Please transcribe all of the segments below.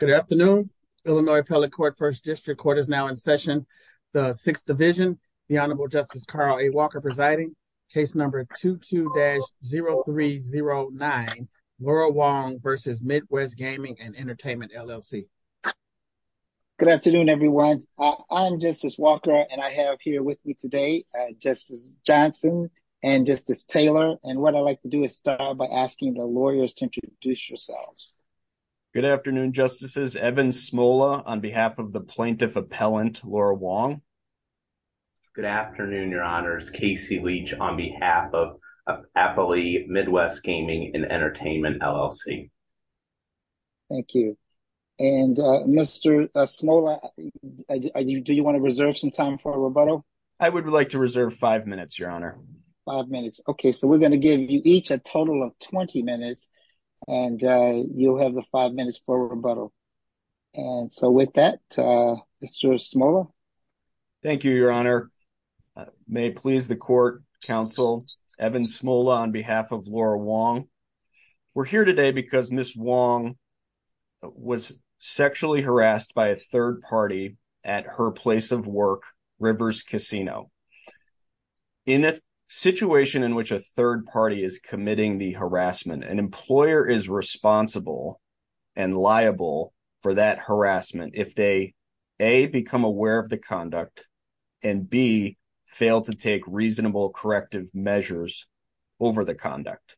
Good afternoon. Illinois Appellate Court First District Court is now in session. The Sixth Division, the Honorable Justice Carl A. Walker presiding, case number 22-0309, Laurel Wong v. Midwest Gaming & Entertainment, LLC. Good afternoon, everyone. I'm Justice Walker, and I have here with me today Justice Johnson and Justice Taylor. And what I'd like to do is start by asking the lawyers to introduce yourselves. Good afternoon, Justices. Evan Smola on behalf of the Plaintiff Appellant, Laurel Wong. Good afternoon, Your Honors. Casey Leach on behalf of Appley Midwest Gaming & Entertainment, LLC. Thank you. And Mr. Smola, do you want to reserve some time for a rebuttal? I would like to reserve five minutes, Your Honor. Five minutes. Okay. So we're going to give you each a total of 20 minutes, and you'll have the five minutes for rebuttal. And so with that, Mr. Smola. Thank you, Your Honor. May it please the Court, Counsel Evan Smola on behalf of Laurel Wong. We're here today because Ms. Wong was sexually harassed by a third party at her place of work, Rivers Casino. In a situation in which a third party is committing the harassment, an employer is responsible and liable for that harassment if they, A, become aware of the conduct, and B, fail to take reasonable corrective measures over the conduct.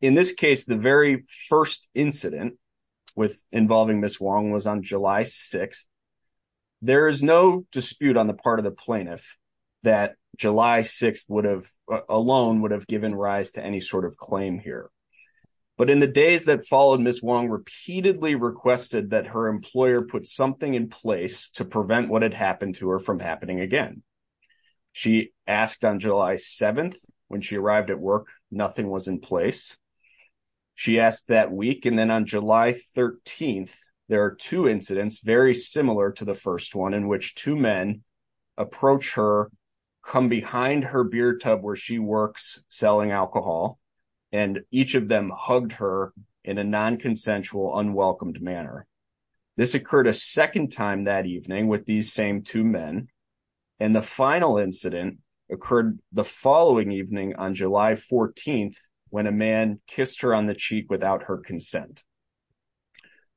In this case, the very first incident involving Ms. Wong was on July 6th. There is no dispute on the part of the plaintiff that July 6th alone would have given rise to any sort of claim here. But in the days that followed, Ms. Wong repeatedly requested that her employer put something in place to prevent what had happened to her from happening again. She asked on July 7th when she arrived at work, nothing was in place. She asked that week, and then on July 13th, there are two incidents, very similar to the first one, in which two men approach her, come behind her beer tub where she hugged her in a non-consensual, unwelcomed manner. This occurred a second time that evening with these same two men, and the final incident occurred the following evening on July 14th when a man kissed her on the cheek without her consent.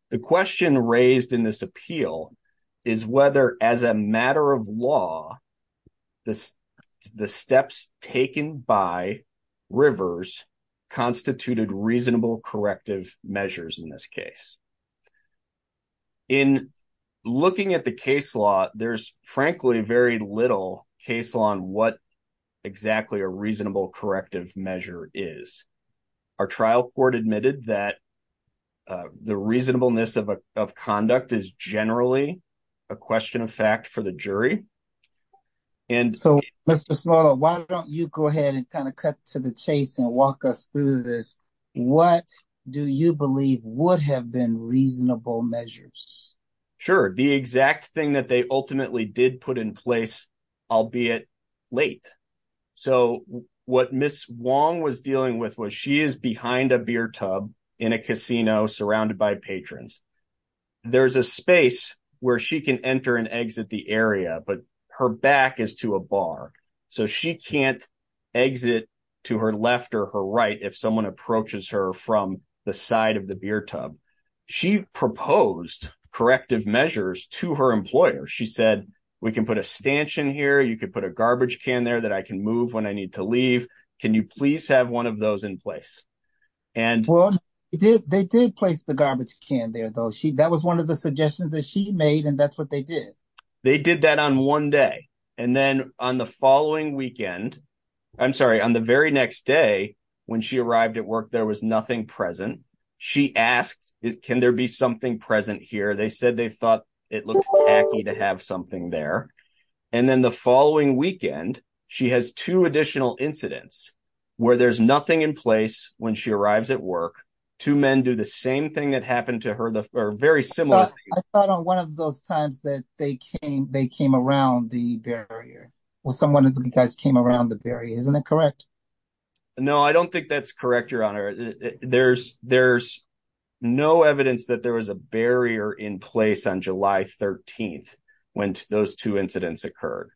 The question raised in this appeal is whether, as a matter of law, the steps taken by Rivers constituted reasonable corrective measures in this case. In looking at the case law, there's frankly very little case law on what exactly a reasonable corrective measure is. Our trial court admitted that the reasonableness of conduct is generally a question of fact for the jury. So, Mr. Small, why don't you go ahead and kind of cut to the chase and walk us through this. What do you believe would have been reasonable measures? Sure, the exact thing that they ultimately did put in place, albeit late. So, what Ms. Wong was dealing with was, she is behind a beer tub in a casino surrounded by there's a space where she can enter and exit the area, but her back is to a bar, so she can't exit to her left or her right if someone approaches her from the side of the beer tub. She proposed corrective measures to her employer. She said, we can put a stanchion here, you could put a garbage can there that I can move when I need to leave. Can you please have one of those in place? Well, they did place the garbage can there, though. That was one of the suggestions that she made, and that's what they did. They did that on one day, and then on the following weekend, I'm sorry, on the very next day when she arrived at work, there was nothing present. She asked, can there be something present here? They said they thought it looked tacky to have something there. And then the following weekend, she has two additional incidents where there's nothing in place when she arrives at work. Two men do the same thing that happened to her, or very similar. I thought on one of those times that they came around the barrier. Well, someone of you guys came around the barrier, isn't it correct? No, I don't think that's correct, Your Honor. There's no evidence that there was a barrier in place on July 13th when those two incidents were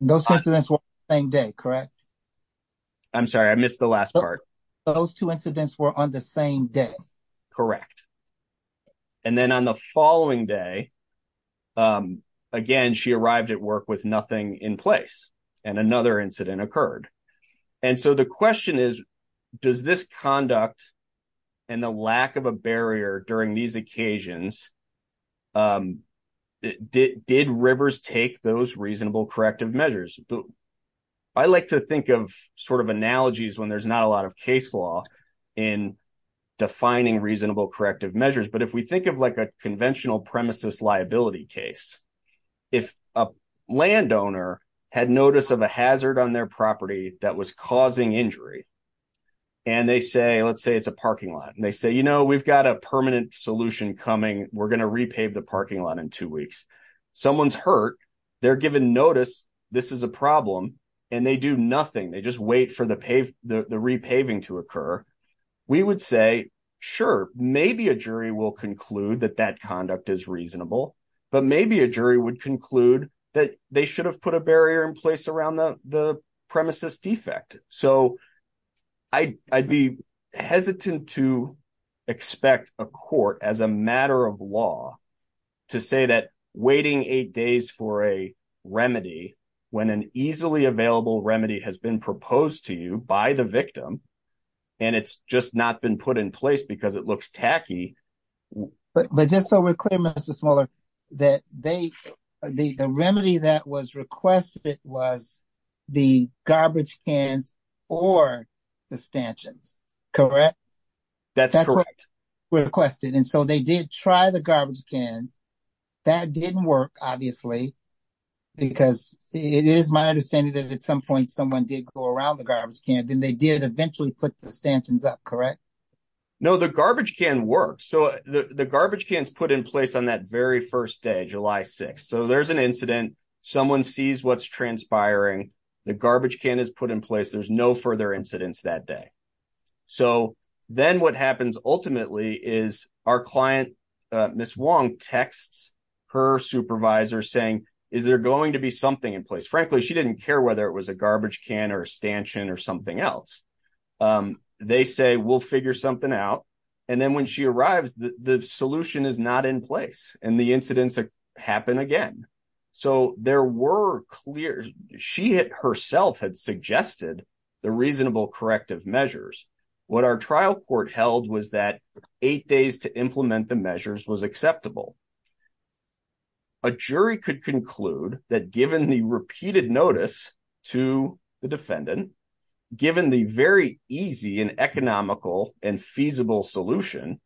on the same day, correct? I'm sorry, I missed the last part. Those two incidents were on the same day. Correct. And then on the following day, again, she arrived at work with nothing in place, and another incident occurred. And so the question is, does this conduct and the lack of a barrier during these occasions, did Rivers take those corrective measures? I like to think of sort of analogies when there's not a lot of case law in defining reasonable corrective measures. But if we think of like a conventional premises liability case, if a landowner had notice of a hazard on their property that was causing injury, and they say, let's say it's a parking lot, and they say, you know, we've got a permanent solution coming, we're going to repave the parking lot in two weeks. Someone's hurt, they're given notice, this is a problem, and they do nothing. They just wait for the repaving to occur. We would say, sure, maybe a jury will conclude that that conduct is reasonable, but maybe a jury would conclude that they should have put a barrier in place around the the premises defect. So I'd be hesitant to expect a court as a matter of law to say that remedy when an easily available remedy has been proposed to you by the victim, and it's just not been put in place because it looks tacky. But just so we're clear, Mr. Smoller, that the remedy that was requested was the garbage cans or the stanchions, correct? That's correct. That's what was requested, and so they did try the garbage cans. That didn't work, obviously, because it is my understanding that at some point someone did go around the garbage can, then they did eventually put the stanchions up, correct? No, the garbage can worked. So the garbage can's put in place on that very first day, July 6th. So there's an incident, someone sees what's transpiring, the garbage can is put in place, there's no further incidents that day. So then what happens ultimately is our client, Ms. Wong, texts her supervisor saying, is there going to be something in place? Frankly, she didn't care whether it was a garbage can or a stanchion or something else. They say, we'll figure something out, and then when she arrives, the solution is not in place, and the incidents happen again. So there were clear, she herself had suggested the reasonable corrective measures. What our trial court held was that eight days to implement the measures was acceptable. A jury could conclude that given the repeated notice to the defendant, given the very easy and economical and feasible solution,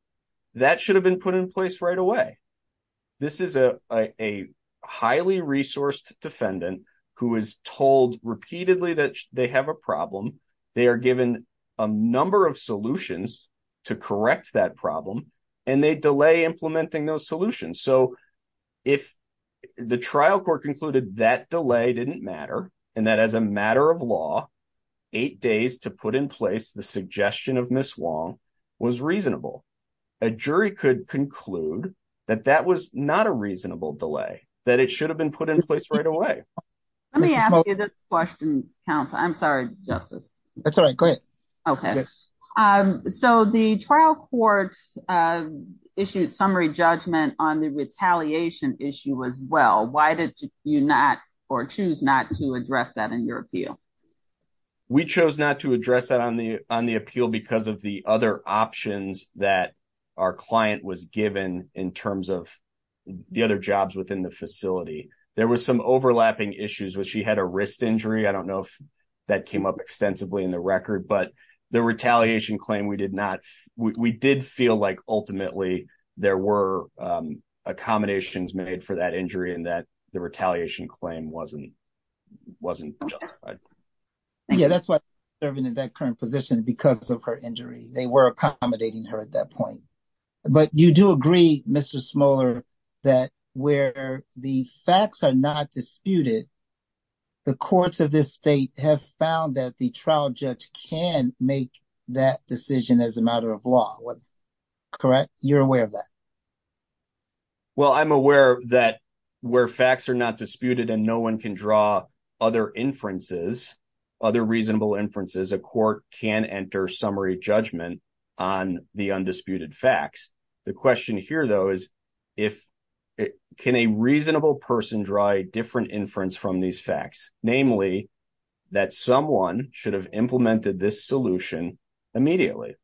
that should have been put in place right away. This is a highly resourced defendant who is told repeatedly that they have a problem, they are given a number of solutions to correct that problem, and they delay implementing those solutions. So if the trial court concluded that delay didn't matter, and that as a matter of law, eight days to put in place the suggestion of Ms. Wong was reasonable, a jury could conclude that that was not a reasonable delay, that it should have been put in place right away. Let me ask you this question, counsel. I'm sorry, Justice. That's all right. Go ahead. Okay. So the trial court issued a summary judgment on the retaliation issue as well. Why did you not or choose not to address that in your appeal? We chose not to address that on the appeal because of the other options that our client was given in facility. There was some overlapping issues where she had a wrist injury. I don't know if that came up extensively in the record, but the retaliation claim, we did feel like ultimately there were accommodations made for that injury and that the retaliation claim wasn't justified. Yeah, that's why she's serving in that current position because of her injury. They were the facts are not disputed. The courts of this state have found that the trial judge can make that decision as a matter of law. Correct? You're aware of that? Well, I'm aware that where facts are not disputed and no one can draw other inferences, other reasonable inferences, a court can enter summary judgment on the undisputed facts. The question here, though, is can a reasonable person draw a different inference from these facts? Namely, that someone should have implemented this solution immediately.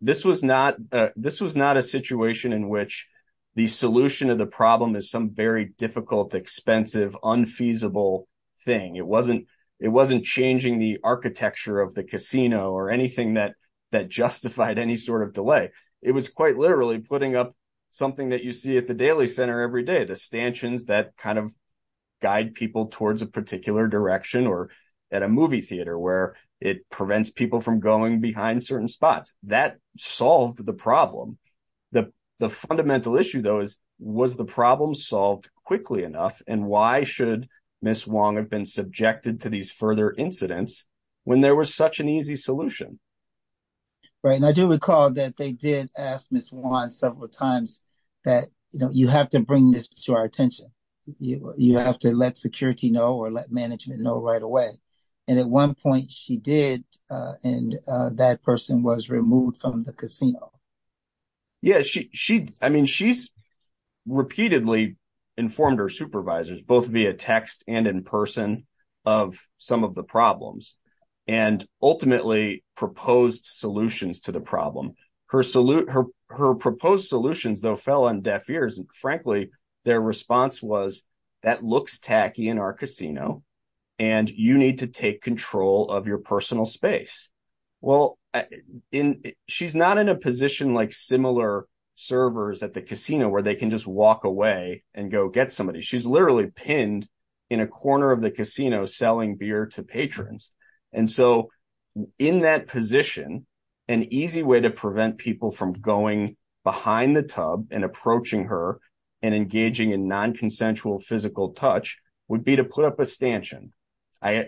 This was not a situation in which the solution of the problem is some very difficult, expensive, unfeasible thing. It wasn't changing the architecture of the casino or anything that justified any sort of putting up something that you see at the Daily Center every day, the stanchions that kind of guide people towards a particular direction or at a movie theater where it prevents people from going behind certain spots. That solved the problem. The fundamental issue, though, was the problem solved quickly enough and why should Ms. Wong have been subjected to these further incidents when there was such an easy solution? Right. And I do recall that they did ask Ms. Wong several times that, you know, you have to bring this to our attention. You have to let security know or let management know right away. And at one point she did and that person was removed from the casino. Yeah, she, I mean, she's repeatedly informed her supervisors both via text and in person of some of the problems and ultimately proposed solutions to the problem. Her proposed solutions, though, fell on deaf ears. And frankly, their response was that looks tacky in our casino and you need to take control of your personal space. Well, she's not in a position like similar servers at the casino where they can just walk away and go get somebody. She's literally pinned in a corner of the casino selling beer to patrons. And so in that position, an easy way to prevent people from going behind the tub and approaching her and engaging in non-consensual physical touch would be to put up a stanchion. They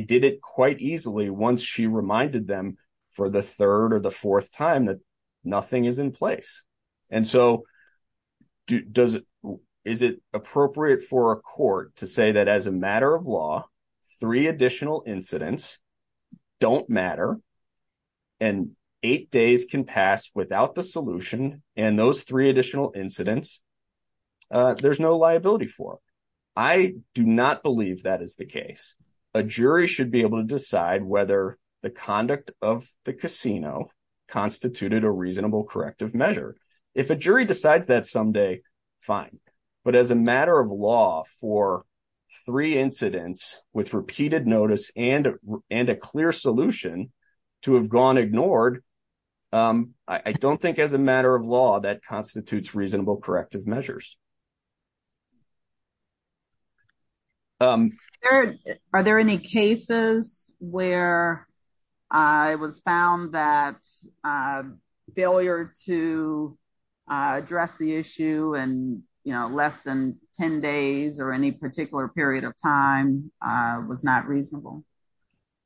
did it quite easily once she reminded them for the third or the fourth time that nothing is in place. And so does, is it appropriate for a court to say that as a matter of law, three additional incidents don't matter and eight days can pass without the solution. And those three additional incidents, there's no liability for. I do not believe that is the case. A jury should be able to decide whether the conduct of the casino constituted a reasonable corrective measure. If a jury decides that someday fine. But as a matter of law for three incidents with repeated notice and a clear solution to have gone ignored, I don't think as a matter of law that constitutes reasonable corrective measures. Are there any cases where I was found that failure to address the issue and, you know, less than 10 days or any particular period of time was not reasonable?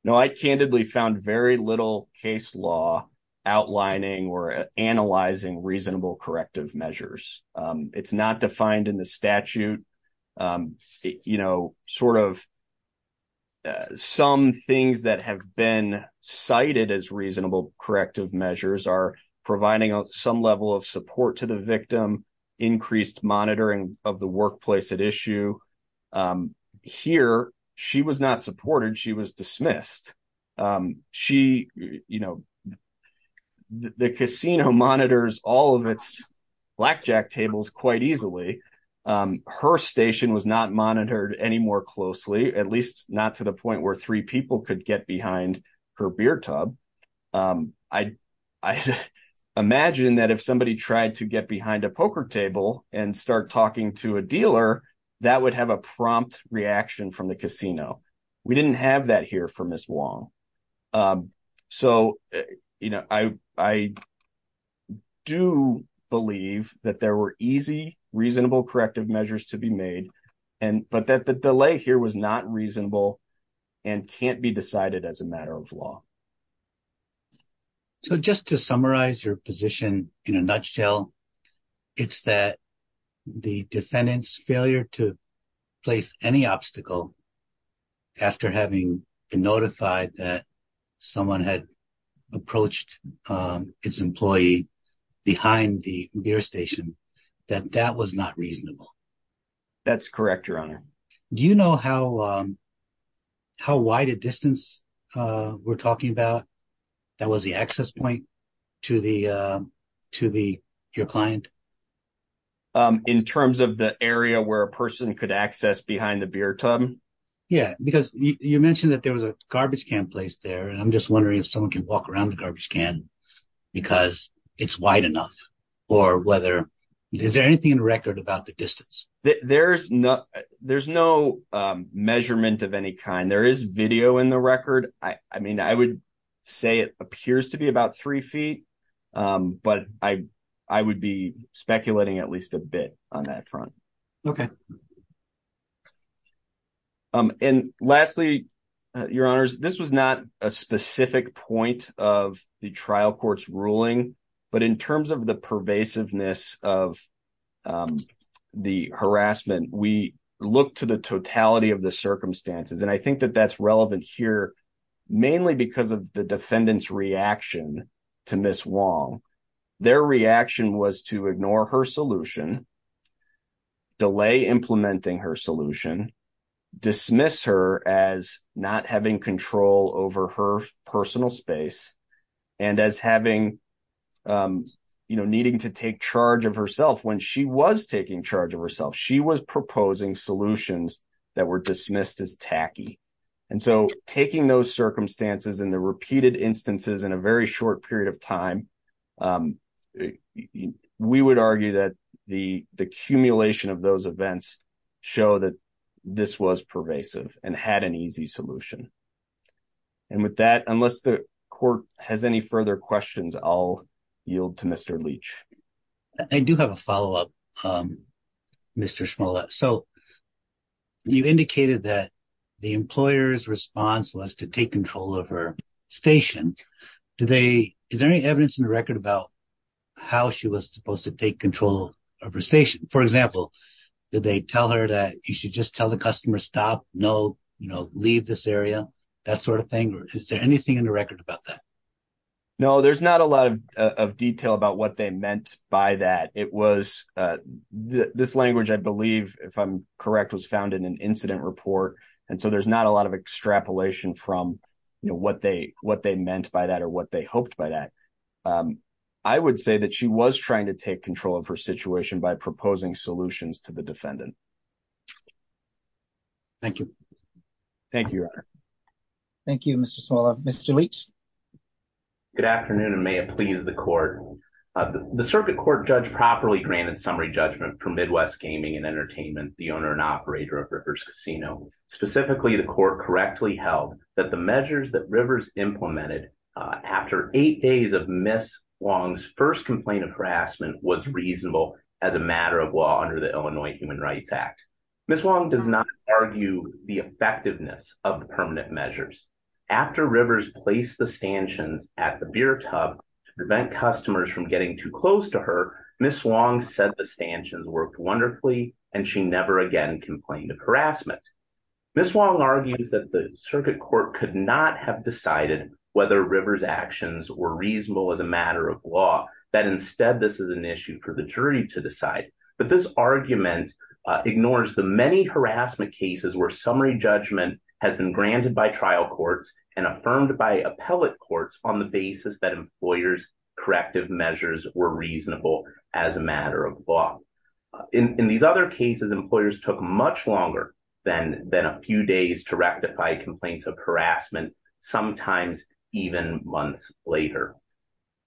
No, I candidly found very little case law outlining or analyzing reasonable corrective measures. It's not defined in the statute. You know, sort of some things that have been cited as reasonable corrective measures are providing some level of support to the victim, increased monitoring of the workplace at issue. Here, she was not supported. She was dismissed. She, you know, the casino monitors all of its blackjack tables quite easily. Her station was not monitored any more closely, at least not to the point where three people could get behind her beer tub. I imagine that if somebody tried to get behind a poker table and start talking to a So, you know, I do believe that there were easy, reasonable corrective measures to be made, but that the delay here was not reasonable and can't be decided as a matter of law. So, just to summarize your position in a nutshell, it's that the defendant's failure to place any obstacle after having been notified that someone had approached its employee behind the beer station, that that was not reasonable. That's correct, your honor. Do you know how wide a distance we're talking about that was the access point to your client? In terms of the area where a person could access behind the beer tub? Yeah, because you mentioned that there was a garbage can placed there, and I'm just wondering if someone can walk around the garbage can because it's wide enough, or whether, is there anything in the record about the distance? There's no measurement of any kind. There is video in the record. I mean, I would say it speculating at least a bit on that front. And lastly, your honors, this was not a specific point of the trial court's ruling, but in terms of the pervasiveness of the harassment, we look to the totality of the circumstances. And I think that that's relevant here, mainly because of the defendant's reaction to Ms. Wong. Their reaction was to ignore her solution, delay implementing her solution, dismiss her as not having control over her personal space, and as needing to take charge of herself when she was taking charge of herself. She was proposing solutions that were dismissed as tacky. And so taking those circumstances and the repeated instances in a very short period of time, we would argue that the accumulation of those events show that this was pervasive and had an easy solution. And with that, unless the court has any further questions, I'll yield to Mr. Leach. I do have a follow-up, Mr. Shimola. So you indicated that the employer's response was to take control of her station. Is there any evidence in the record about how she was supposed to take control of her station? For example, did they tell her that you should just tell the customer, stop, no, leave this area, that sort of thing? Is there anything in the record about that? No, there's not a lot of detail about what they meant by that. It was this language, I believe, if I'm correct, was found in an incident report. And so there's not a lot of extrapolation from what they meant by that or what they hoped by that. I would say that she was trying to take control of her situation by proposing solutions to the defendant. Thank you. Thank you, Your Honor. Thank you, Mr. Shimola. Mr. Leach. Good afternoon, and may it please the court. The circuit court judge properly granted summary judgment for Midwest Gaming and Entertainment, the owner and operator of Rivers Casino. Specifically, the court correctly held that the measures that Rivers implemented after eight days of Ms. Wong's first complaint of harassment was reasonable as a matter of law under the Illinois Human Rights Act. Ms. Wong does not argue the effectiveness of the permanent measures. After Rivers placed the stanchions at the beer tub to prevent customers from getting too close to her, Ms. Wong said the stanchions worked wonderfully, and she never again complained of harassment. Ms. Wong argues that the circuit court could not have decided whether Rivers' actions were reasonable as a matter of law, that instead this is an issue for the jury to decide. But this argument ignores the many harassment cases where summary judgment has been granted by trial courts and affirmed by appellate courts on the basis that employers' corrective measures were reasonable as a matter of law. In these other cases, employers took much longer than a few days to rectify complaints of harassment, sometimes even months later.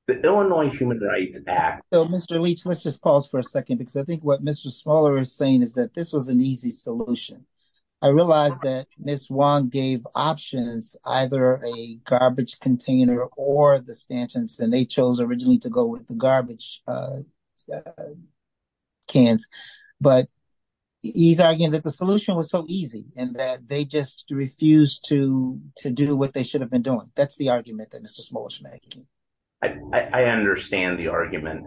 The Illinois Human Rights Act— Mr. Leach, let's just pause for a second because I think what Mr. Smaller is saying is that this was an easy solution. I realize that Ms. Wong gave options, either a garbage container or the stanchions, and they chose originally to go with the garbage cans. But he's arguing that the solution was so easy and that they just refused to do what they should have been doing. That's argument that Mr. Smaller is making. I understand the argument,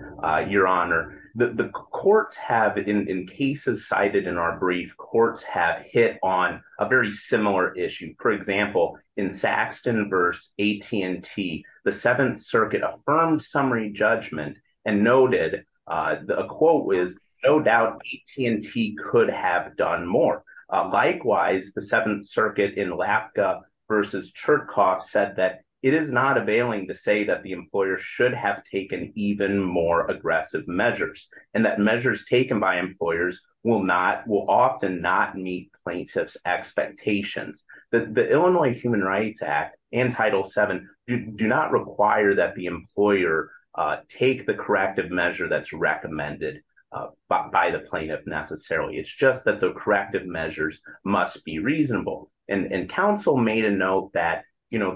Your Honor. The courts have, in cases cited in our brief, courts have hit on a very similar issue. For example, in Saxton v. AT&T, the Seventh Circuit affirmed summary judgment and noted, a quote was, no doubt AT&T could have done more. Likewise, the Seventh Circuit in Lapka v. Churkoff said that it is not availing to say that the employer should have taken even more aggressive measures and that measures taken by employers will often not meet plaintiffs' expectations. The Illinois Human Rights Act and Title VII do not require that the employer take the corrective measure that's recommended by the plaintiff necessarily. It's just that the corrective measures must be reasonable. And counsel made a note that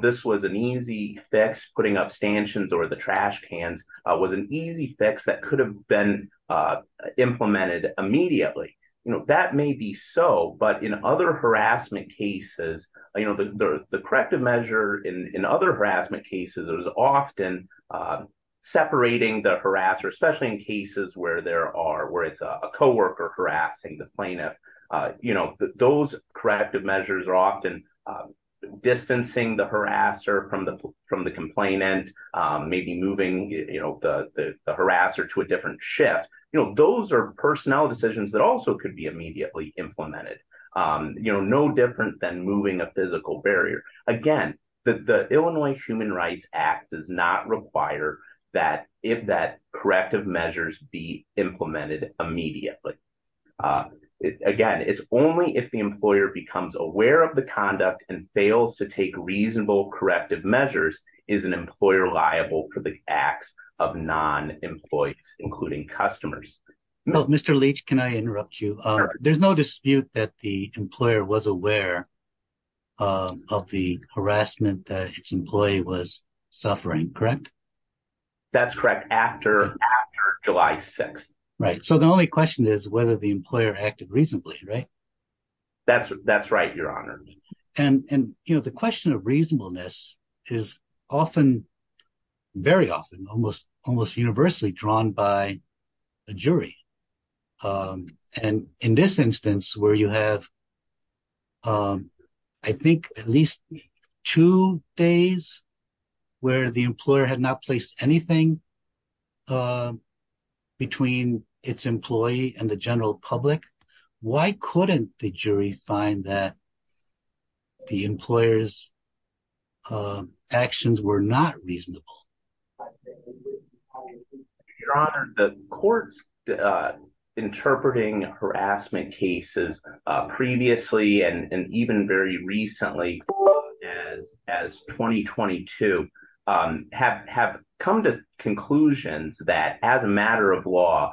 this was an easy fix, putting up stanchions or the trash cans was an easy fix that could have been implemented immediately. That may be so, but in other harassment cases, the corrective measure in other harassment cases is often separating the harasser, especially in cases where it's a co-worker harassing the plaintiff. Those corrective measures are often distancing the harasser from the complainant, maybe moving the harasser to a different shift. Those are personnel decisions that also could be immediately implemented. No different than moving a physical barrier. Again, the Illinois Human Rights Act does not require that if that corrective measures be implemented immediately. Again, it's only if the employer becomes aware of the conduct and fails to take reasonable corrective measures is an employer liable for the acts of non-employees, including customers. Mr. Leach, can I interrupt you? There's no dispute that the employer was aware of the harassment that its employee was suffering, correct? That's correct, after July 6th. Right. So the only question is whether the employer acted reasonably, right? That's right, Your Honor. And the question of reasonableness is often, very often, almost universally drawn by a jury. And in this instance where you have I think at least two days where the employer had not placed anything between its employee and the general public, why couldn't the jury find that the employer's actions were not reasonable? Your Honor, the court's interpreting harassment cases previously and even very recently, as 2022, have come to conclusions that as a matter of law,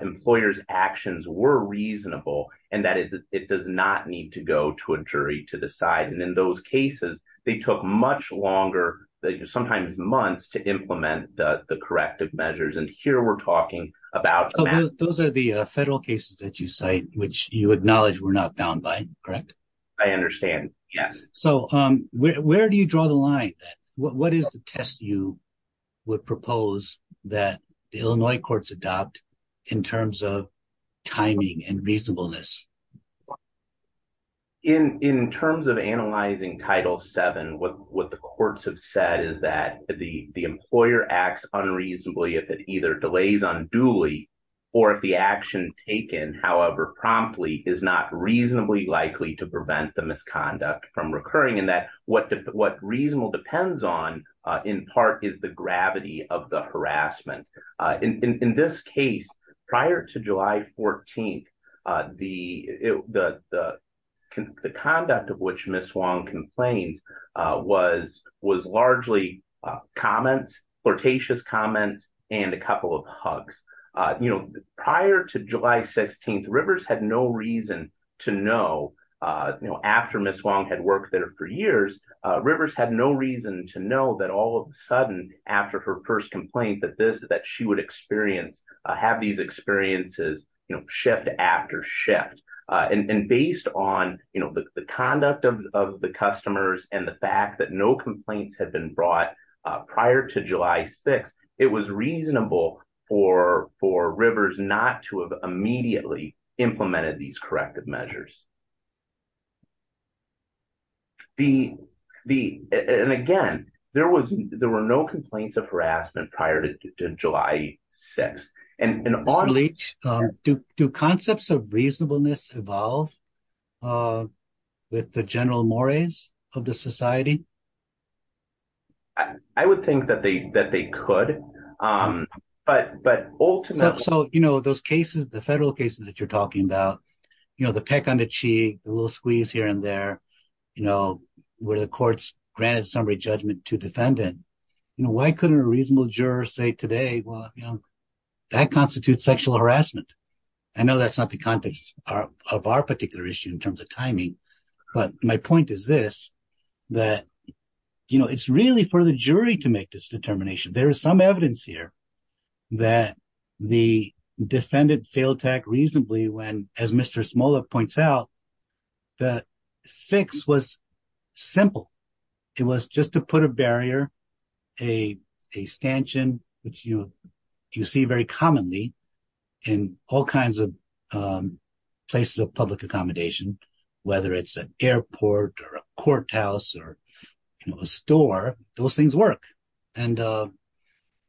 employers' actions were reasonable and that it does not need to go to a jury to decide. And in those cases, they took much longer, sometimes months, to implement the corrective measures. Here we're talking about... Those are the federal cases that you cite, which you acknowledge were not bound by, correct? I understand, yes. So where do you draw the line? What is the test you would propose that the Illinois courts adopt in terms of timing and reasonableness? In terms of analyzing Title VII, what the courts have said is that the employer acts unreasonably if it either delays unduly or if the action taken, however promptly, is not reasonably likely to prevent the misconduct from recurring and that what reasonable depends on, in part, is the gravity of the harassment. In this case, prior to July 14th, the conduct of which Ms. Wong complains was largely comments, flirtatious comments, and a couple of hugs. Prior to July 16th, Rivers had no reason to know, after Ms. Wong had worked there for years, Rivers had no reason to know that all of a sudden, after her first complaint, that she would have these experiences shift after shift. And based on the conduct of the customers and the fact that no complaints had been brought prior to July 6th, it was reasonable for Rivers not to have immediately implemented these corrective measures. And again, there were no complaints of harassment prior to July 6th. Do concepts of reasonableness evolve with the general mores of the society? I would think that they could, but ultimately... So those cases, the federal cases that you're talking about, the peck on the cheek, the little squeeze here and there, where the courts granted summary judgment to defendant, why couldn't a reasonable juror say today, well, that constitutes sexual harassment? I know that's not the context of our particular issue in terms of timing, but my point is this, that it's really for the jury to make this determination. There is some evidence here that the defendant failed to act reasonably when, as Mr. Smola points out, the fix was simple. It was just to put a barrier, a stanchion, which you see very commonly in all kinds of places of public accommodation, whether it's an airport or a courthouse or a store, those things work. And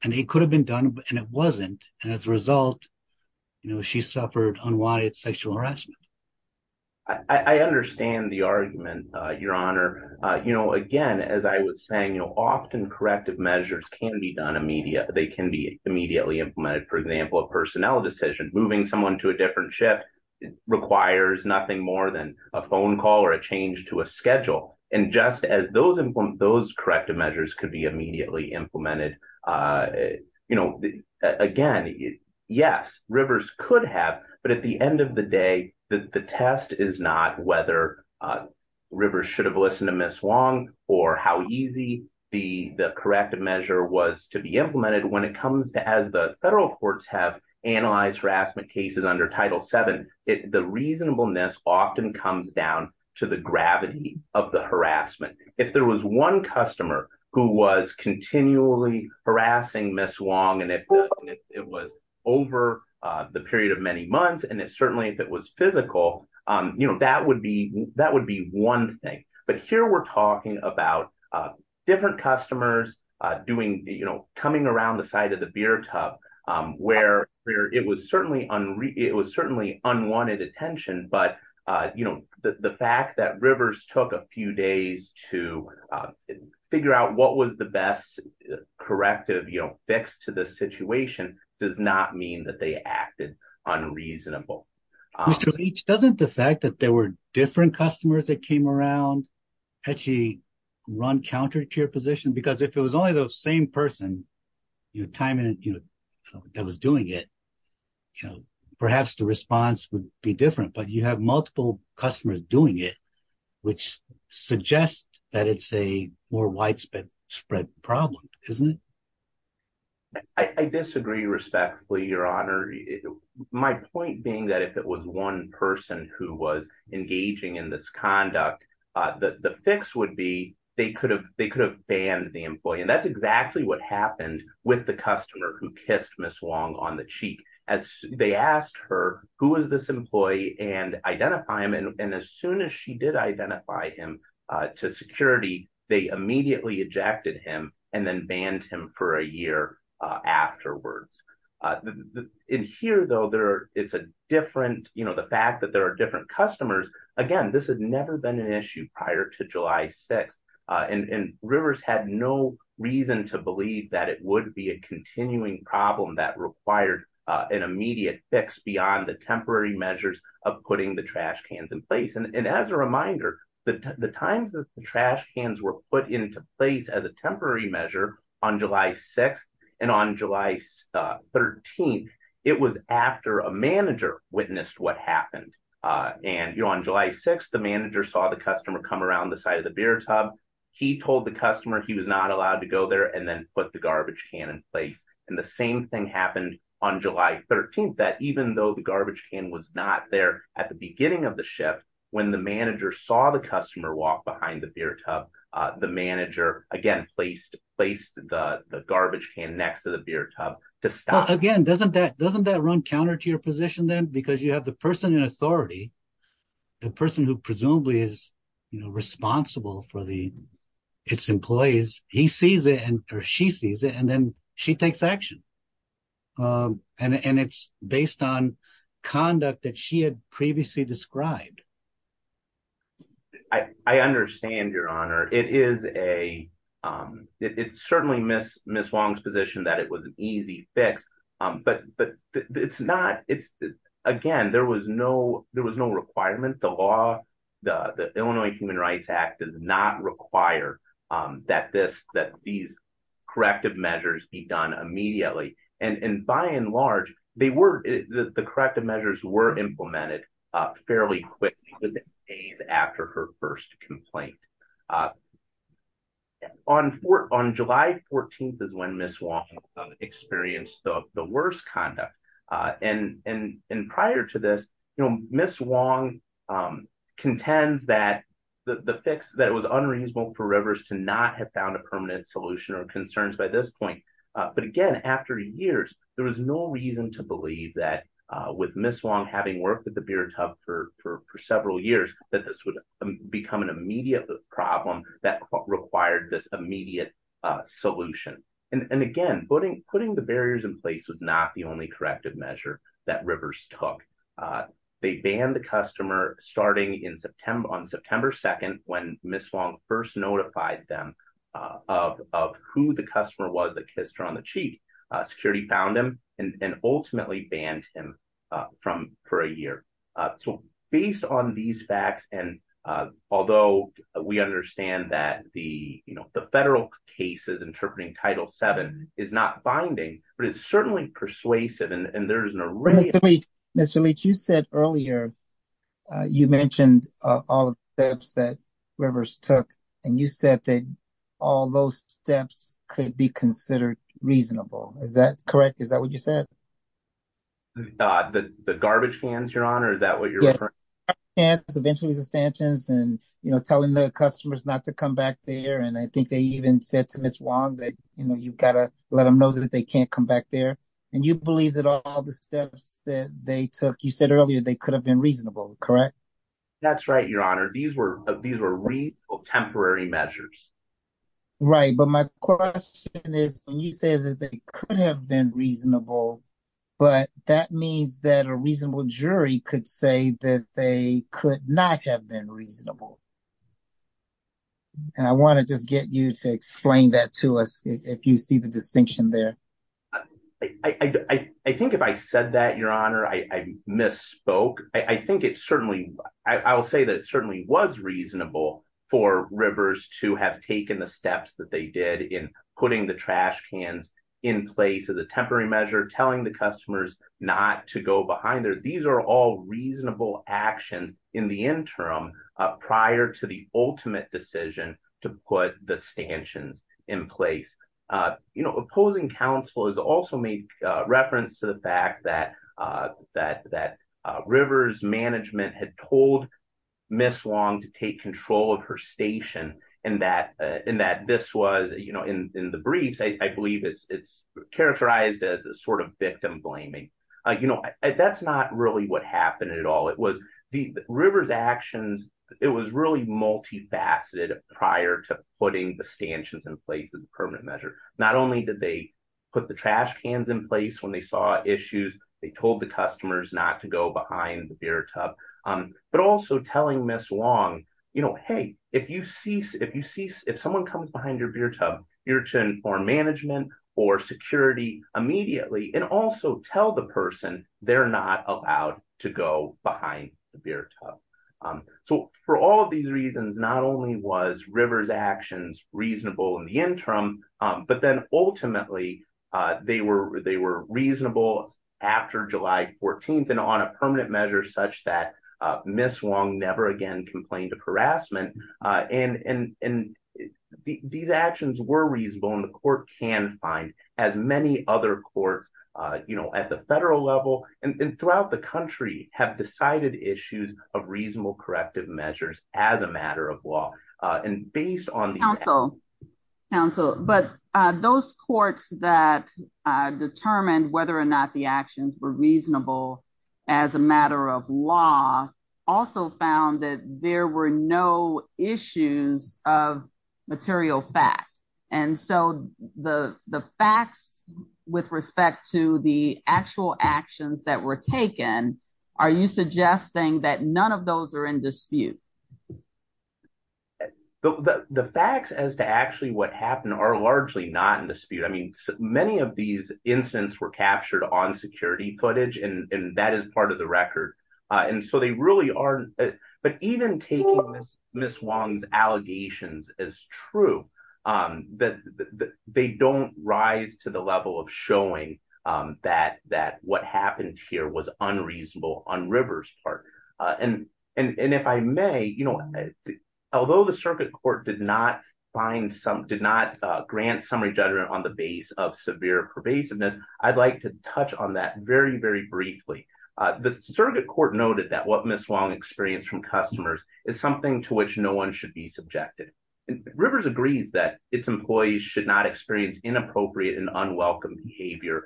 it could have been done and it wasn't. And as a result, she suffered unwanted sexual harassment. I understand the argument, Your Honor. Again, as I was saying, often corrective measures can be done immediately. They can be immediately implemented. For example, a personnel decision, moving someone to a different ship requires nothing more than a phone call or a change to a schedule. And just as those corrective measures could be immediately implemented, again, yes, Rivers could have, but at the end of the day, the test is not whether Rivers should have listened to Ms. Wong or how easy the corrective measure was to be implemented. When it comes to, as the federal courts have analyzed harassment cases under Title VII, the reasonableness often comes down to the gravity of the harassment. If there was one customer who was continually harassing Ms. Wong and it was over the period of many months, and it certainly, if it was physical, that would be one thing. But here we're talking about different customers coming around the side of the beer tub where it was it was certainly unwanted attention. But the fact that Rivers took a few days to figure out what was the best corrective fix to the situation does not mean that they acted unreasonable. Mr. Leach, doesn't the fact that there were different customers that came around actually run counter to your position? Because if it was only the same person, your time that was doing it, perhaps the response would be different. But you have multiple customers doing it, which suggests that it's a more widespread problem, isn't it? I disagree respectfully, Your Honor. My point being that if it was one person who was engaging in this conduct, the fix would be they could have banned the employee. And that's exactly what happened with the customer who kissed Ms. Wong on the cheek as they asked her who was this employee and identify him. And as soon as she did identify him to security, they immediately ejected him and then banned him for a year afterwards. In here, though, there it's a different you know, the fact that there are different customers. Again, this had never been an issue prior to July 6. And Rivers had no reason to believe that it would be a continuing problem that required an immediate fix beyond the temporary measures of putting the trash cans in place. And as a reminder, the times that the trash cans were put into place as a temporary measure on July 6, and on July 13, it was after a manager witnessed what happened. And you're on July 6, the manager saw the customer come around the side of the beer tub. He told the customer he was not allowed to go there and then put the garbage can in place. And the same thing happened on July 13, that even though the garbage can was not there at the beginning of the shift, when the manager saw the customer walk behind the beer tub, the manager again, placed the garbage can next to the beer tub to stop again, doesn't that doesn't that run counter to your position then because you have the person in authority, the person who presumably is, you know, responsible for the its employees, he sees it and or she sees it and then she takes action. And it's based on conduct that she had previously described. I understand your honor, it is a it's certainly miss miss Wong's position that it was an easy fix. But but it's not it's, again, there was no there was no requirement, the law, the Illinois Human Rights Act does not require that this that these corrective measures be done immediately. And by and large, they were the corrective measures were implemented fairly within days after her first complaint. On for on July 14, is when Miss Wong experienced the worst conduct. And, and, and prior to this, you know, Miss Wong contends that the fix that it was unreasonable for rivers to not have found a permanent solution or concerns by this point. But again, after years, there was no reason to believe that with Miss Wong having worked with the beer tub for several years, that this would become an immediate problem that required this immediate solution. And again, putting putting the barriers in place was not the only corrective measure that rivers took. They banned the customer starting in September on September 2, when Miss Wong first notified them of who the customer was on the sheet, security found him and ultimately banned him from for a year. So based on these facts, and although we understand that the you know, the federal cases interpreting Title Seven is not binding, but it's certainly persuasive. And there's an array, Mr. Leach, you said earlier, you mentioned all the steps that rivers took, and you said that all those steps could be considered reasonable. Is that correct? Is that what you said? The garbage cans you're on? Or is that what you're Yeah, eventually the stanchions and, you know, telling the customers not to come back there. And I think they even said to Miss Wong that, you know, you've got to let them know that they can't come back there. And you believe that all the steps that they took, you said earlier, they could have been reasonable, correct? That's right, Your Honor. These were these were real temporary measures. Right. But my question is, when you say that they could have been reasonable, but that means that a reasonable jury could say that they could not have been reasonable. And I want to just get you to explain that to us, if you see the distinction there. I think if I said that, Your Honor, I misspoke, I think it certainly, I will say that it certainly was reasonable for rivers to have taken the steps that they did in putting the trash cans in place as a temporary measure telling the customers not to go behind there. These are all reasonable actions in the interim, prior to the ultimate decision to put the stanchions in place. You know, opposing counsel has also made reference to the fact that that that rivers management had told Miss Wong to take control of her station and that and that this was, you know, in the briefs, I believe it's it's characterized as a sort of victim blaming. You know, that's not really what happened at all. It was the river's actions. It was really multifaceted prior to putting the stanchions in place as a permanent measure. Not only did they put the trash cans in place when they saw issues, they told the customers not to go behind the beer tub, but also telling Miss Wong, you know, hey, if you see, if you see, if someone comes behind your beer tub, you're to inform management or security immediately and also tell the person they're not allowed to go behind the beer tub. So for all of these reasons, not only was rivers actions reasonable in the interim, but then ultimately they were they were reasonable after July 14th and on a permanent measure such that Miss Wong never again complained of harassment. And these actions were reasonable and the court can find as many other courts, you know, at the federal level and throughout the country have decided issues of reasonable corrective measures as a matter of law and based on the council. But those courts that determined whether or not the actions were reasonable as a matter of law also found that there were no issues of that were taken. Are you suggesting that none of those are in dispute? The facts as to actually what happened are largely not in dispute. I mean, many of these incidents were captured on security footage and that is part of the record. And so they really are. But even taking Miss Wong's allegations as true, that they don't rise to level of showing that that what happened here was unreasonable on Rivers Park. And if I may, although the circuit court did not find some did not grant summary judgment on the base of severe pervasiveness, I'd like to touch on that very, very briefly. The circuit court noted that what Miss Wong experienced from customers is something to which no one should be subjected. Rivers agrees that its employees should not experience inappropriate and unwelcome behavior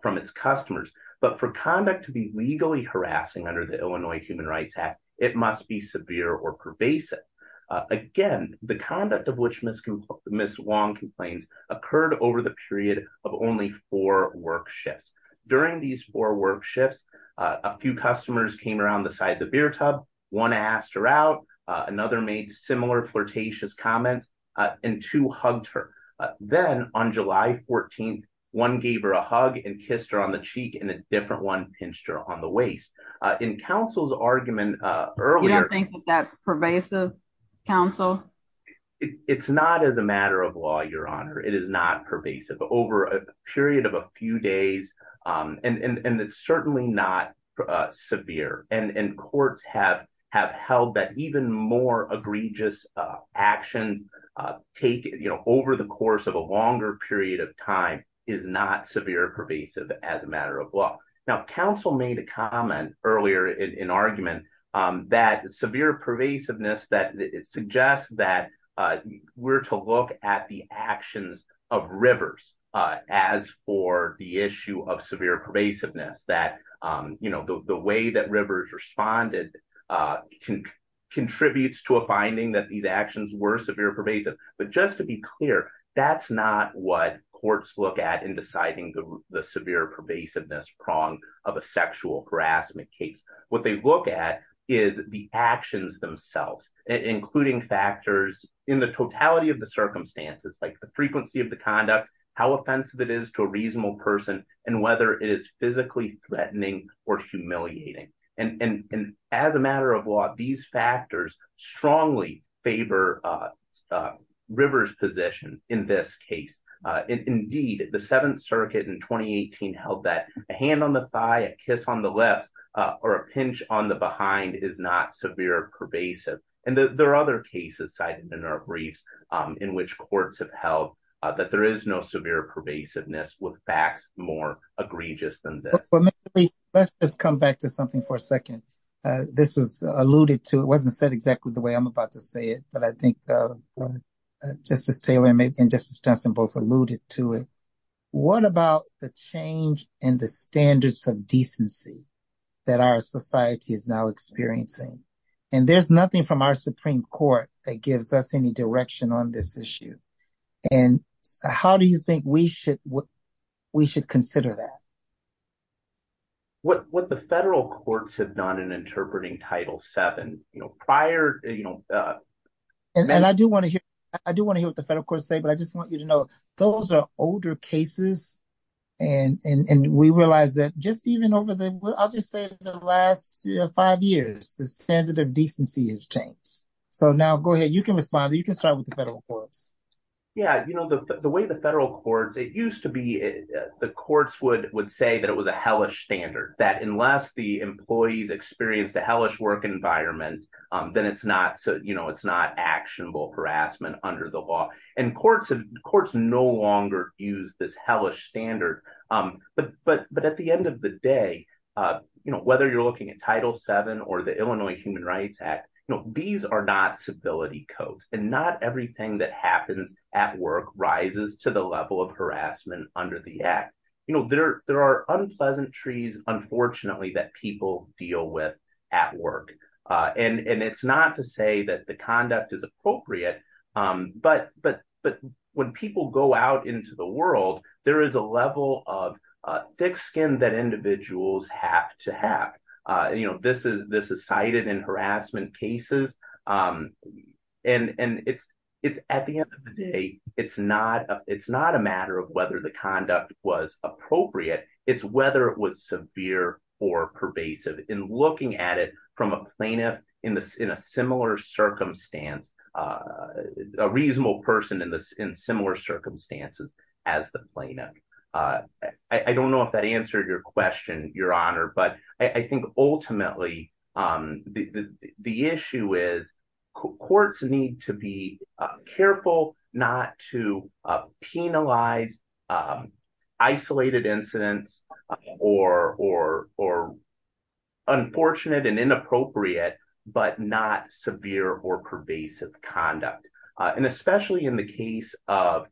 from its customers. But for conduct to be legally harassing under the Illinois Human Rights Act, it must be severe or pervasive. Again, the conduct of which Miss Wong complains occurred over the period of only four work shifts. During these four work shifts, a few customers came around the side of and two hugged her. Then on July 14, one gave her a hug and kissed her on the cheek and a different one pinched her on the waist. In counsel's argument earlier- You don't think that's pervasive, counsel? It's not as a matter of law, Your Honor. It is not pervasive over a period of a few days. And it's certainly not severe. And courts have held that even more egregious actions over the course of a longer period of time is not severe or pervasive as a matter of law. Now, counsel made a comment earlier in argument that severe pervasiveness suggests that we're to look at the actions of Rivers as for the issue of severe pervasiveness, that the way that Rivers responded contributes to a finding that these actions were severe pervasive. But just to be clear, that's not what courts look at in deciding the severe pervasiveness prong of a sexual harassment case. What they look at is the actions themselves, including factors in the totality of the circumstances like the frequency of the conduct, how offensive it is to a reasonable person, and whether it is physically threatening or humiliating. And as a matter of law, these factors strongly favor Rivers' position in this case. Indeed, the Seventh Circuit in 2018 held that a hand on the thigh, a kiss on the lips, or a pinch on the behind is not severe pervasive. And there are other cases cited in our briefs in which courts have held that there is no severe pervasiveness with facts more egregious than this. But let's just come back to something for a second. This was alluded to. It wasn't said exactly the way I'm about to say it, but I think Justice Taylor and Justice Jensen both alluded to what about the change in the standards of decency that our society is now experiencing? And there's nothing from our Supreme Court that gives us any direction on this issue. And how do you think we should consider that? What the federal courts have done in interpreting Title VII, prior... And I do want to hear what the federal courts say, but I just want you to know, those are older cases. And we realize that just even over the... I'll just say the last five years, the standard of decency has changed. So now go ahead. You can respond. You can start with the federal courts. Yeah. The way the federal courts... It used to be the courts would say that it was a hellish standard, that unless the employees experience the hellish work environment, then it's not actionable harassment under the law. And courts no longer use this hellish standard. But at the end of the day, whether you're looking at Title VII or the Illinois Human Rights Act, these are not civility codes, and not everything that happens at work rises to the level of harassment under the act. There are unpleasantries, unfortunately, that people deal with at work. And it's not to say that the conduct is appropriate. But when people go out into the world, there is a level of thick skin that individuals have to have. This is cited in harassment cases. And at the end of the day, it's not a matter of whether the conduct was appropriate. It's whether it was severe or pervasive. In looking at it from a plaintiff in a similar circumstance, a reasonable person in similar circumstances as the plaintiff. I don't know if that answered your question, Your Honor. But I think ultimately, the issue is courts need to be careful not to penalize isolated incidents or unfortunate and inappropriate, but not severe or pervasive conduct. And especially in the case of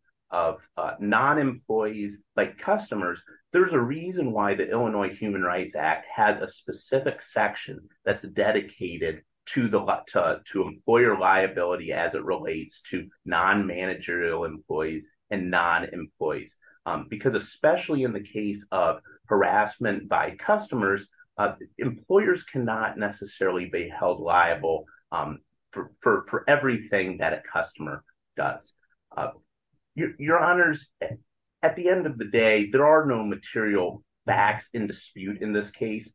non-employees like customers, there's a reason why the Illinois Human Rights Act has a specific section that's dedicated to employer liability as it relates to managerial employees and non-employees. Because especially in the case of harassment by customers, employers cannot necessarily be held liable for everything that a customer does. Your Honors, at the end of the day, there are no material facts in dispute in this case.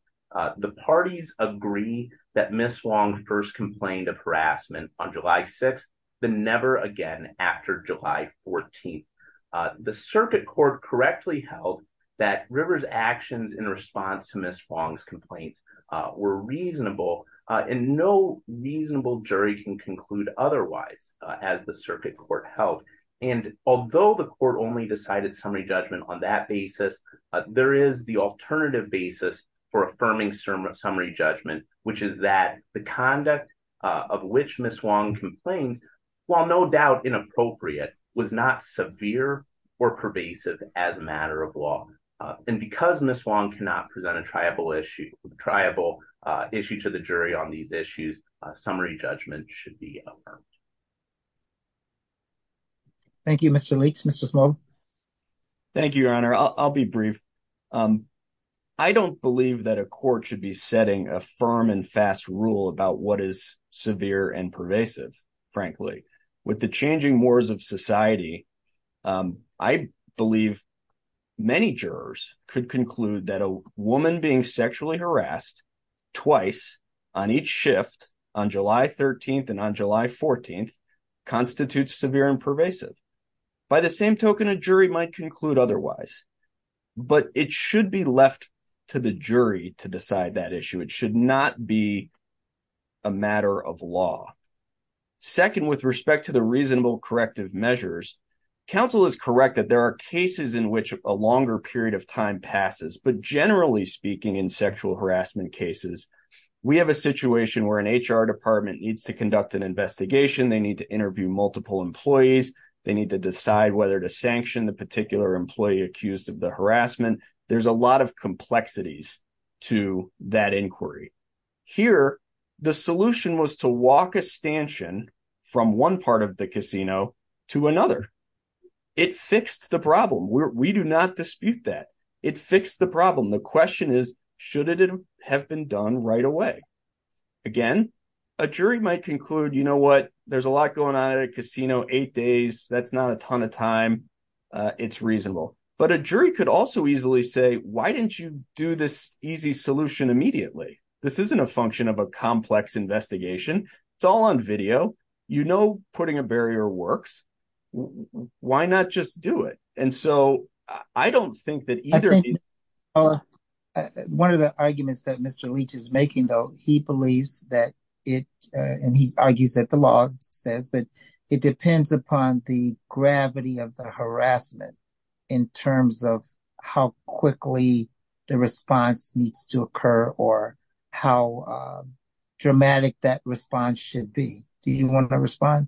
The parties agree that Ms. Wong first complained of harassment on July 6th, then never again after July 14th. The circuit court correctly held that River's actions in response to Ms. Wong's complaints were reasonable. And no reasonable jury can conclude otherwise, as the circuit court held. And although the court only decided summary judgment on that basis, there is the alternative basis for affirming summary judgment, which is that the conduct of which Ms. Wong complained, while no doubt inappropriate, was not severe or pervasive as a matter of law. And because Ms. Wong cannot present a triable issue to the jury on these issues, summary judgment should be affirmed. Thank you, Mr. Leach. Mr. Small? Thank you, Your Honor. I'll be brief. I don't believe that a court should be setting a firm and fast rule about what is severe and pervasive, frankly. With the changing mores of society, I believe many jurors could conclude that a woman being sexually harassed twice on each shift, on July 13th and on July 14th, constitutes severe and pervasive. By the same token, a jury might conclude otherwise. But it should be left to the jury to decide that issue. It should not be a matter of law. Second, with respect to the reasonable corrective measures, counsel is correct that there are cases in which a longer period of time passes. But generally in sexual harassment cases, we have a situation where an HR department needs to conduct an investigation. They need to interview multiple employees. They need to decide whether to sanction the particular employee accused of the harassment. There's a lot of complexities to that inquiry. Here, the solution was to walk a stanchion from one part of the casino to another. It fixed the problem. We do not dispute that. It fixed the problem. The question is, should it have been done right away? Again, a jury might conclude, you know what, there's a lot going on at a casino, eight days, that's not a ton of time, it's reasonable. But a jury could also easily say, why didn't you do this easy solution immediately? This isn't a function of a complex investigation. It's all on video. You know putting a barrier works. Why not just do it? And so I don't think that either... I think one of the arguments that Mr. Leach is making though, he believes that it, and he argues that the law says that it depends upon the gravity of the harassment in terms of how quickly the response needs to occur or how dramatic that response should be. Do you want to respond?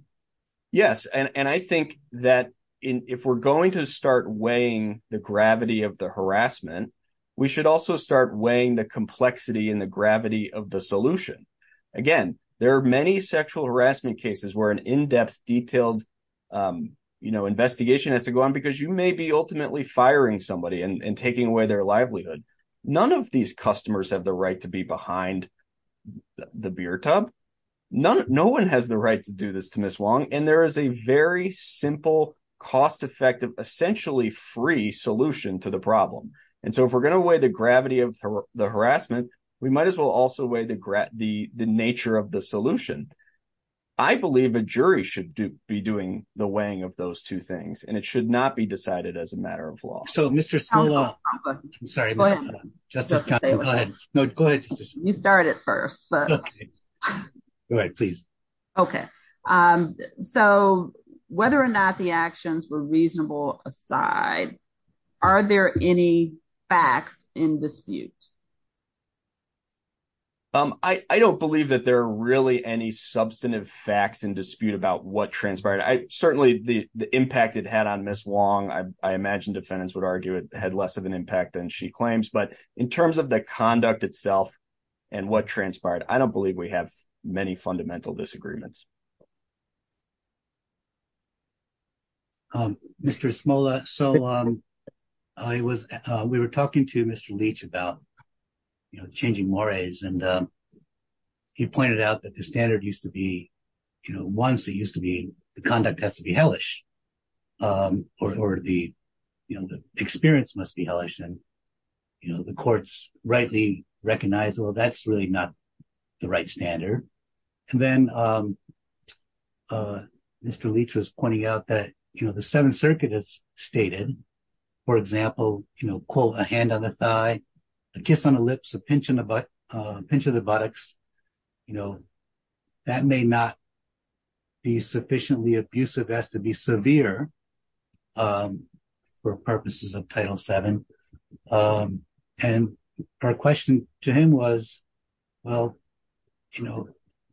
Yes. And I think that if we're going to start weighing the gravity of the harassment, we should also start weighing the complexity and the gravity of the solution. Again, there are many sexual harassment cases where an in-depth, detailed investigation has to go on because you may be ultimately firing somebody and taking away their livelihood. None of these and there is a very simple, cost-effective, essentially free solution to the problem. And so if we're going to weigh the gravity of the harassment, we might as well also weigh the nature of the solution. I believe a jury should be doing the weighing of those two things, and it should not be decided as a matter of law. So Mr. Spillaw, I'm sorry, Justice Thompson, no, go ahead. You start it first. Go ahead, please. Okay. So whether or not the actions were reasonable aside, are there any facts in dispute? I don't believe that there are really any substantive facts in dispute about what transpired. Certainly the impact it had on Ms. Wong, I imagine defendants would argue it had less of an impact than she claims, but in terms of the conduct itself and what transpired, I don't believe we have many fundamental disagreements. Mr. Smola, so we were talking to Mr. Leach about changing mores and he pointed out that the standard used to be, once it used to be, conduct has to be hellish or the experience must be hellish and the courts rightly recognize, well, that's really not the right standard. And then Mr. Leach was pointing out that the Seventh Circuit has stated, for example, quote, a hand on the thigh, a kiss on the lips, a pinch of the buttocks, that may not be sufficiently abusive as to be severe for purposes of Title VII. And our question to him was, well,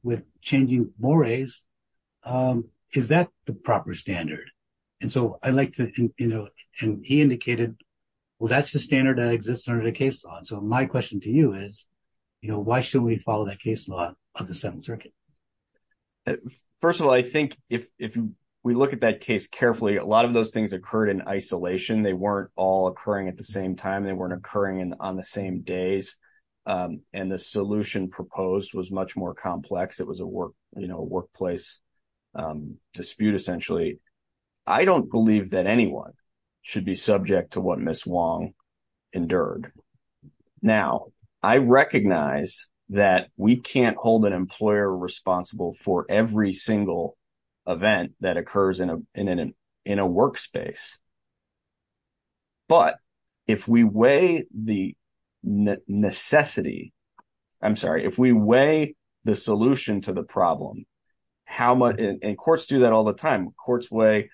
with changing mores, is that the proper standard? And so I like to, and he indicated, well, that's the standard that is, you know, why should we follow that case law of the Seventh Circuit? First of all, I think if we look at that case carefully, a lot of those things occurred in isolation. They weren't all occurring at the same time. They weren't occurring on the same days. And the solution proposed was much more complex. It was a workplace dispute, essentially. I don't believe that anyone should be subject to what Ms. Wong endured. Now, I recognize that we can't hold an employer responsible for every single event that occurs in a workspace. But if we weigh the necessity, I'm sorry, if we weigh the solution to the problem, how much, and courts do that all the time, courts weigh,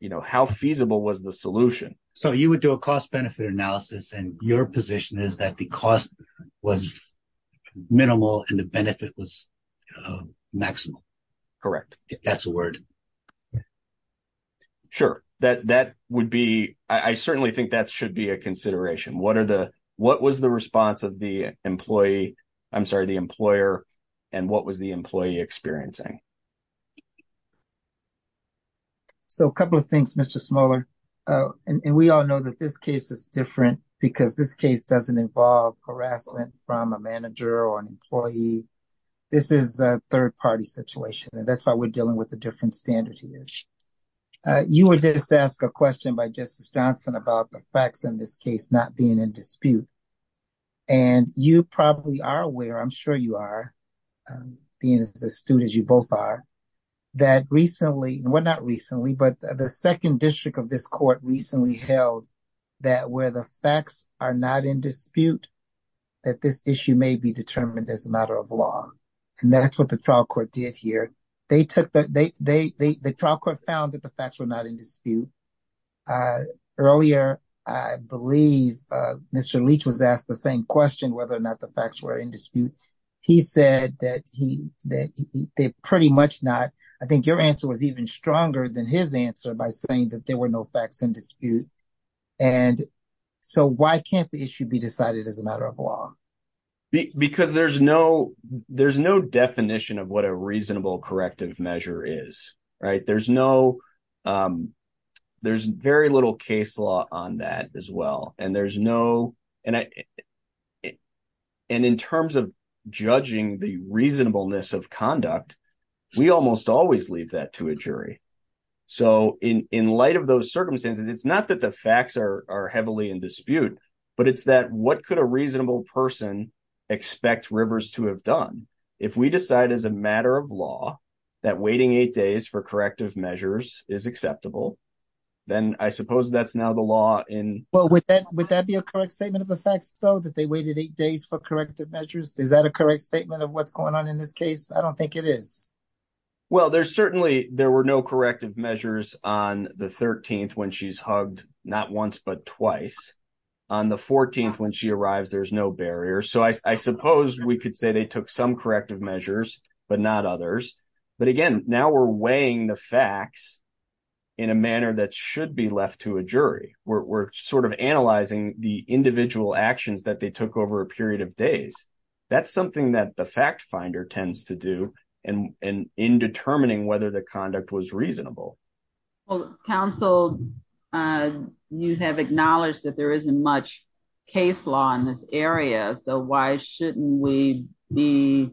you know, how feasible was the solution? So you would do a cost-benefit analysis, and your position is that the cost was minimal and the benefit was maximal. Correct. That's a word. Sure. That would be, I certainly think that should be a consideration. What are the, what was the response of the employee, I'm sorry, the employer, and what was the employee experiencing? So a couple of things, Mr. Smoller, and we all know that this case is different because this case doesn't involve harassment from a manager or an employee. This is a third-party situation, and that's why we're dealing with a different standard here. You were just asked a question by Justice Johnson about the facts in this case not being in dispute. And you probably are aware, I'm sure you are, being as astute as you both are, that recently, well, not recently, but the second district of this court recently held that where the facts are not in dispute, that this issue may be determined as a matter of law. And that's what the trial court did here. They took, the trial court found that the facts were not in dispute. Earlier, I believe, Mr. Leach was asked the same question, whether or not the facts were in dispute. He said that he, that they're pretty much not. I think your answer was even stronger than his answer by saying that there were no facts in dispute. And so why can't the issue be decided as a matter of law? Because there's no, there's no definition of what a reasonable corrective measure is, right? There's no, there's very little case law on that as well. And there's no, and I, and in terms of judging the reasonableness of conduct, we almost always leave that to a jury. So in light of those circumstances, it's not that the facts are heavily in dispute, but it's that what could a reasonable person expect Rivers to have done? If we decide as a matter of law that waiting eight days for corrective measures is acceptable, then I suppose that's now the law in. Well, would that, would that be a correct statement of the facts though, that they waited eight days for corrective measures? Is that a correct statement of what's going on in this case? I don't think it is. Well, there's certainly, there were no corrective measures on the 13th when she's hugged, not once, but twice. On the 14th, when she arrives, there's no measures, but not others. But again, now we're weighing the facts in a manner that should be left to a jury. We're sort of analyzing the individual actions that they took over a period of days. That's something that the fact finder tends to do and in determining whether the conduct was reasonable. Well, counsel, you have acknowledged that there isn't much case law in this area. So why shouldn't we be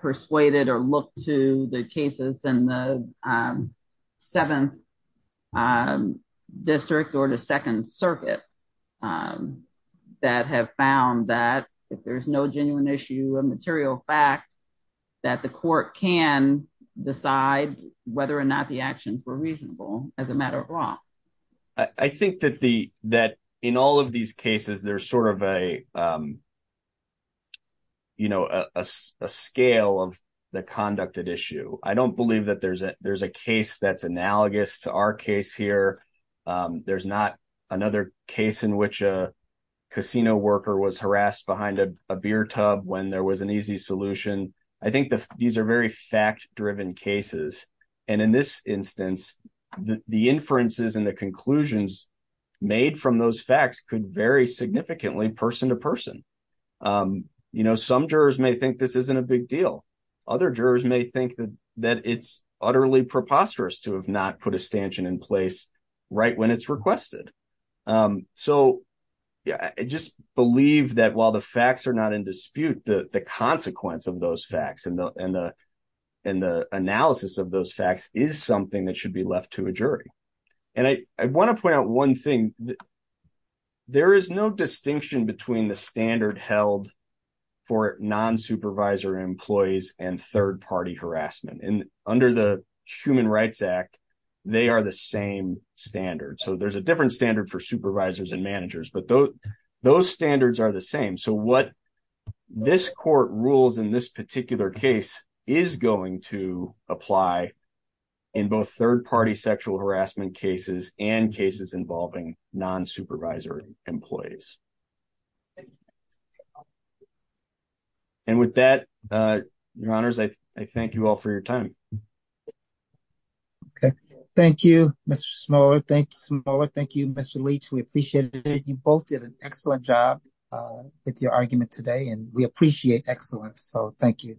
persuaded or look to the cases in the seventh district or the second circuit that have found that if there's no genuine issue of material fact, that the court can decide whether or not the actions were reasonable as a matter of law. I think that the, that in all these cases, there's sort of a, you know, a scale of the conducted issue. I don't believe that there's a case that's analogous to our case here. There's not another case in which a casino worker was harassed behind a beer tub when there was an easy solution. I think that these are very fact-driven cases. And in this instance, the inferences and the conclusions made from those facts could vary significantly person to person. You know, some jurors may think this isn't a big deal. Other jurors may think that it's utterly preposterous to have not put a stanchion in place right when it's requested. So yeah, I just believe that while the facts are not in dispute, the consequence of those facts and the analysis of those facts is something that should be left to a jury. And I want to point out one thing. There is no distinction between the standard held for non-supervisor employees and third-party harassment. And under the Human Rights Act, they are the same standard. So there's a different standard for supervisors and managers, but those standards are the same. So what this court rules in this particular case is going to apply in both third-party sexual harassment cases and cases involving non-supervisor employees. And with that, Your Honors, I thank you all for your time. Okay. Thank you, Mr. Smoller. Thank you, Mr. Leach. We appreciate it. You both did an excellent job with your argument today, and we appreciate excellence. So thank you.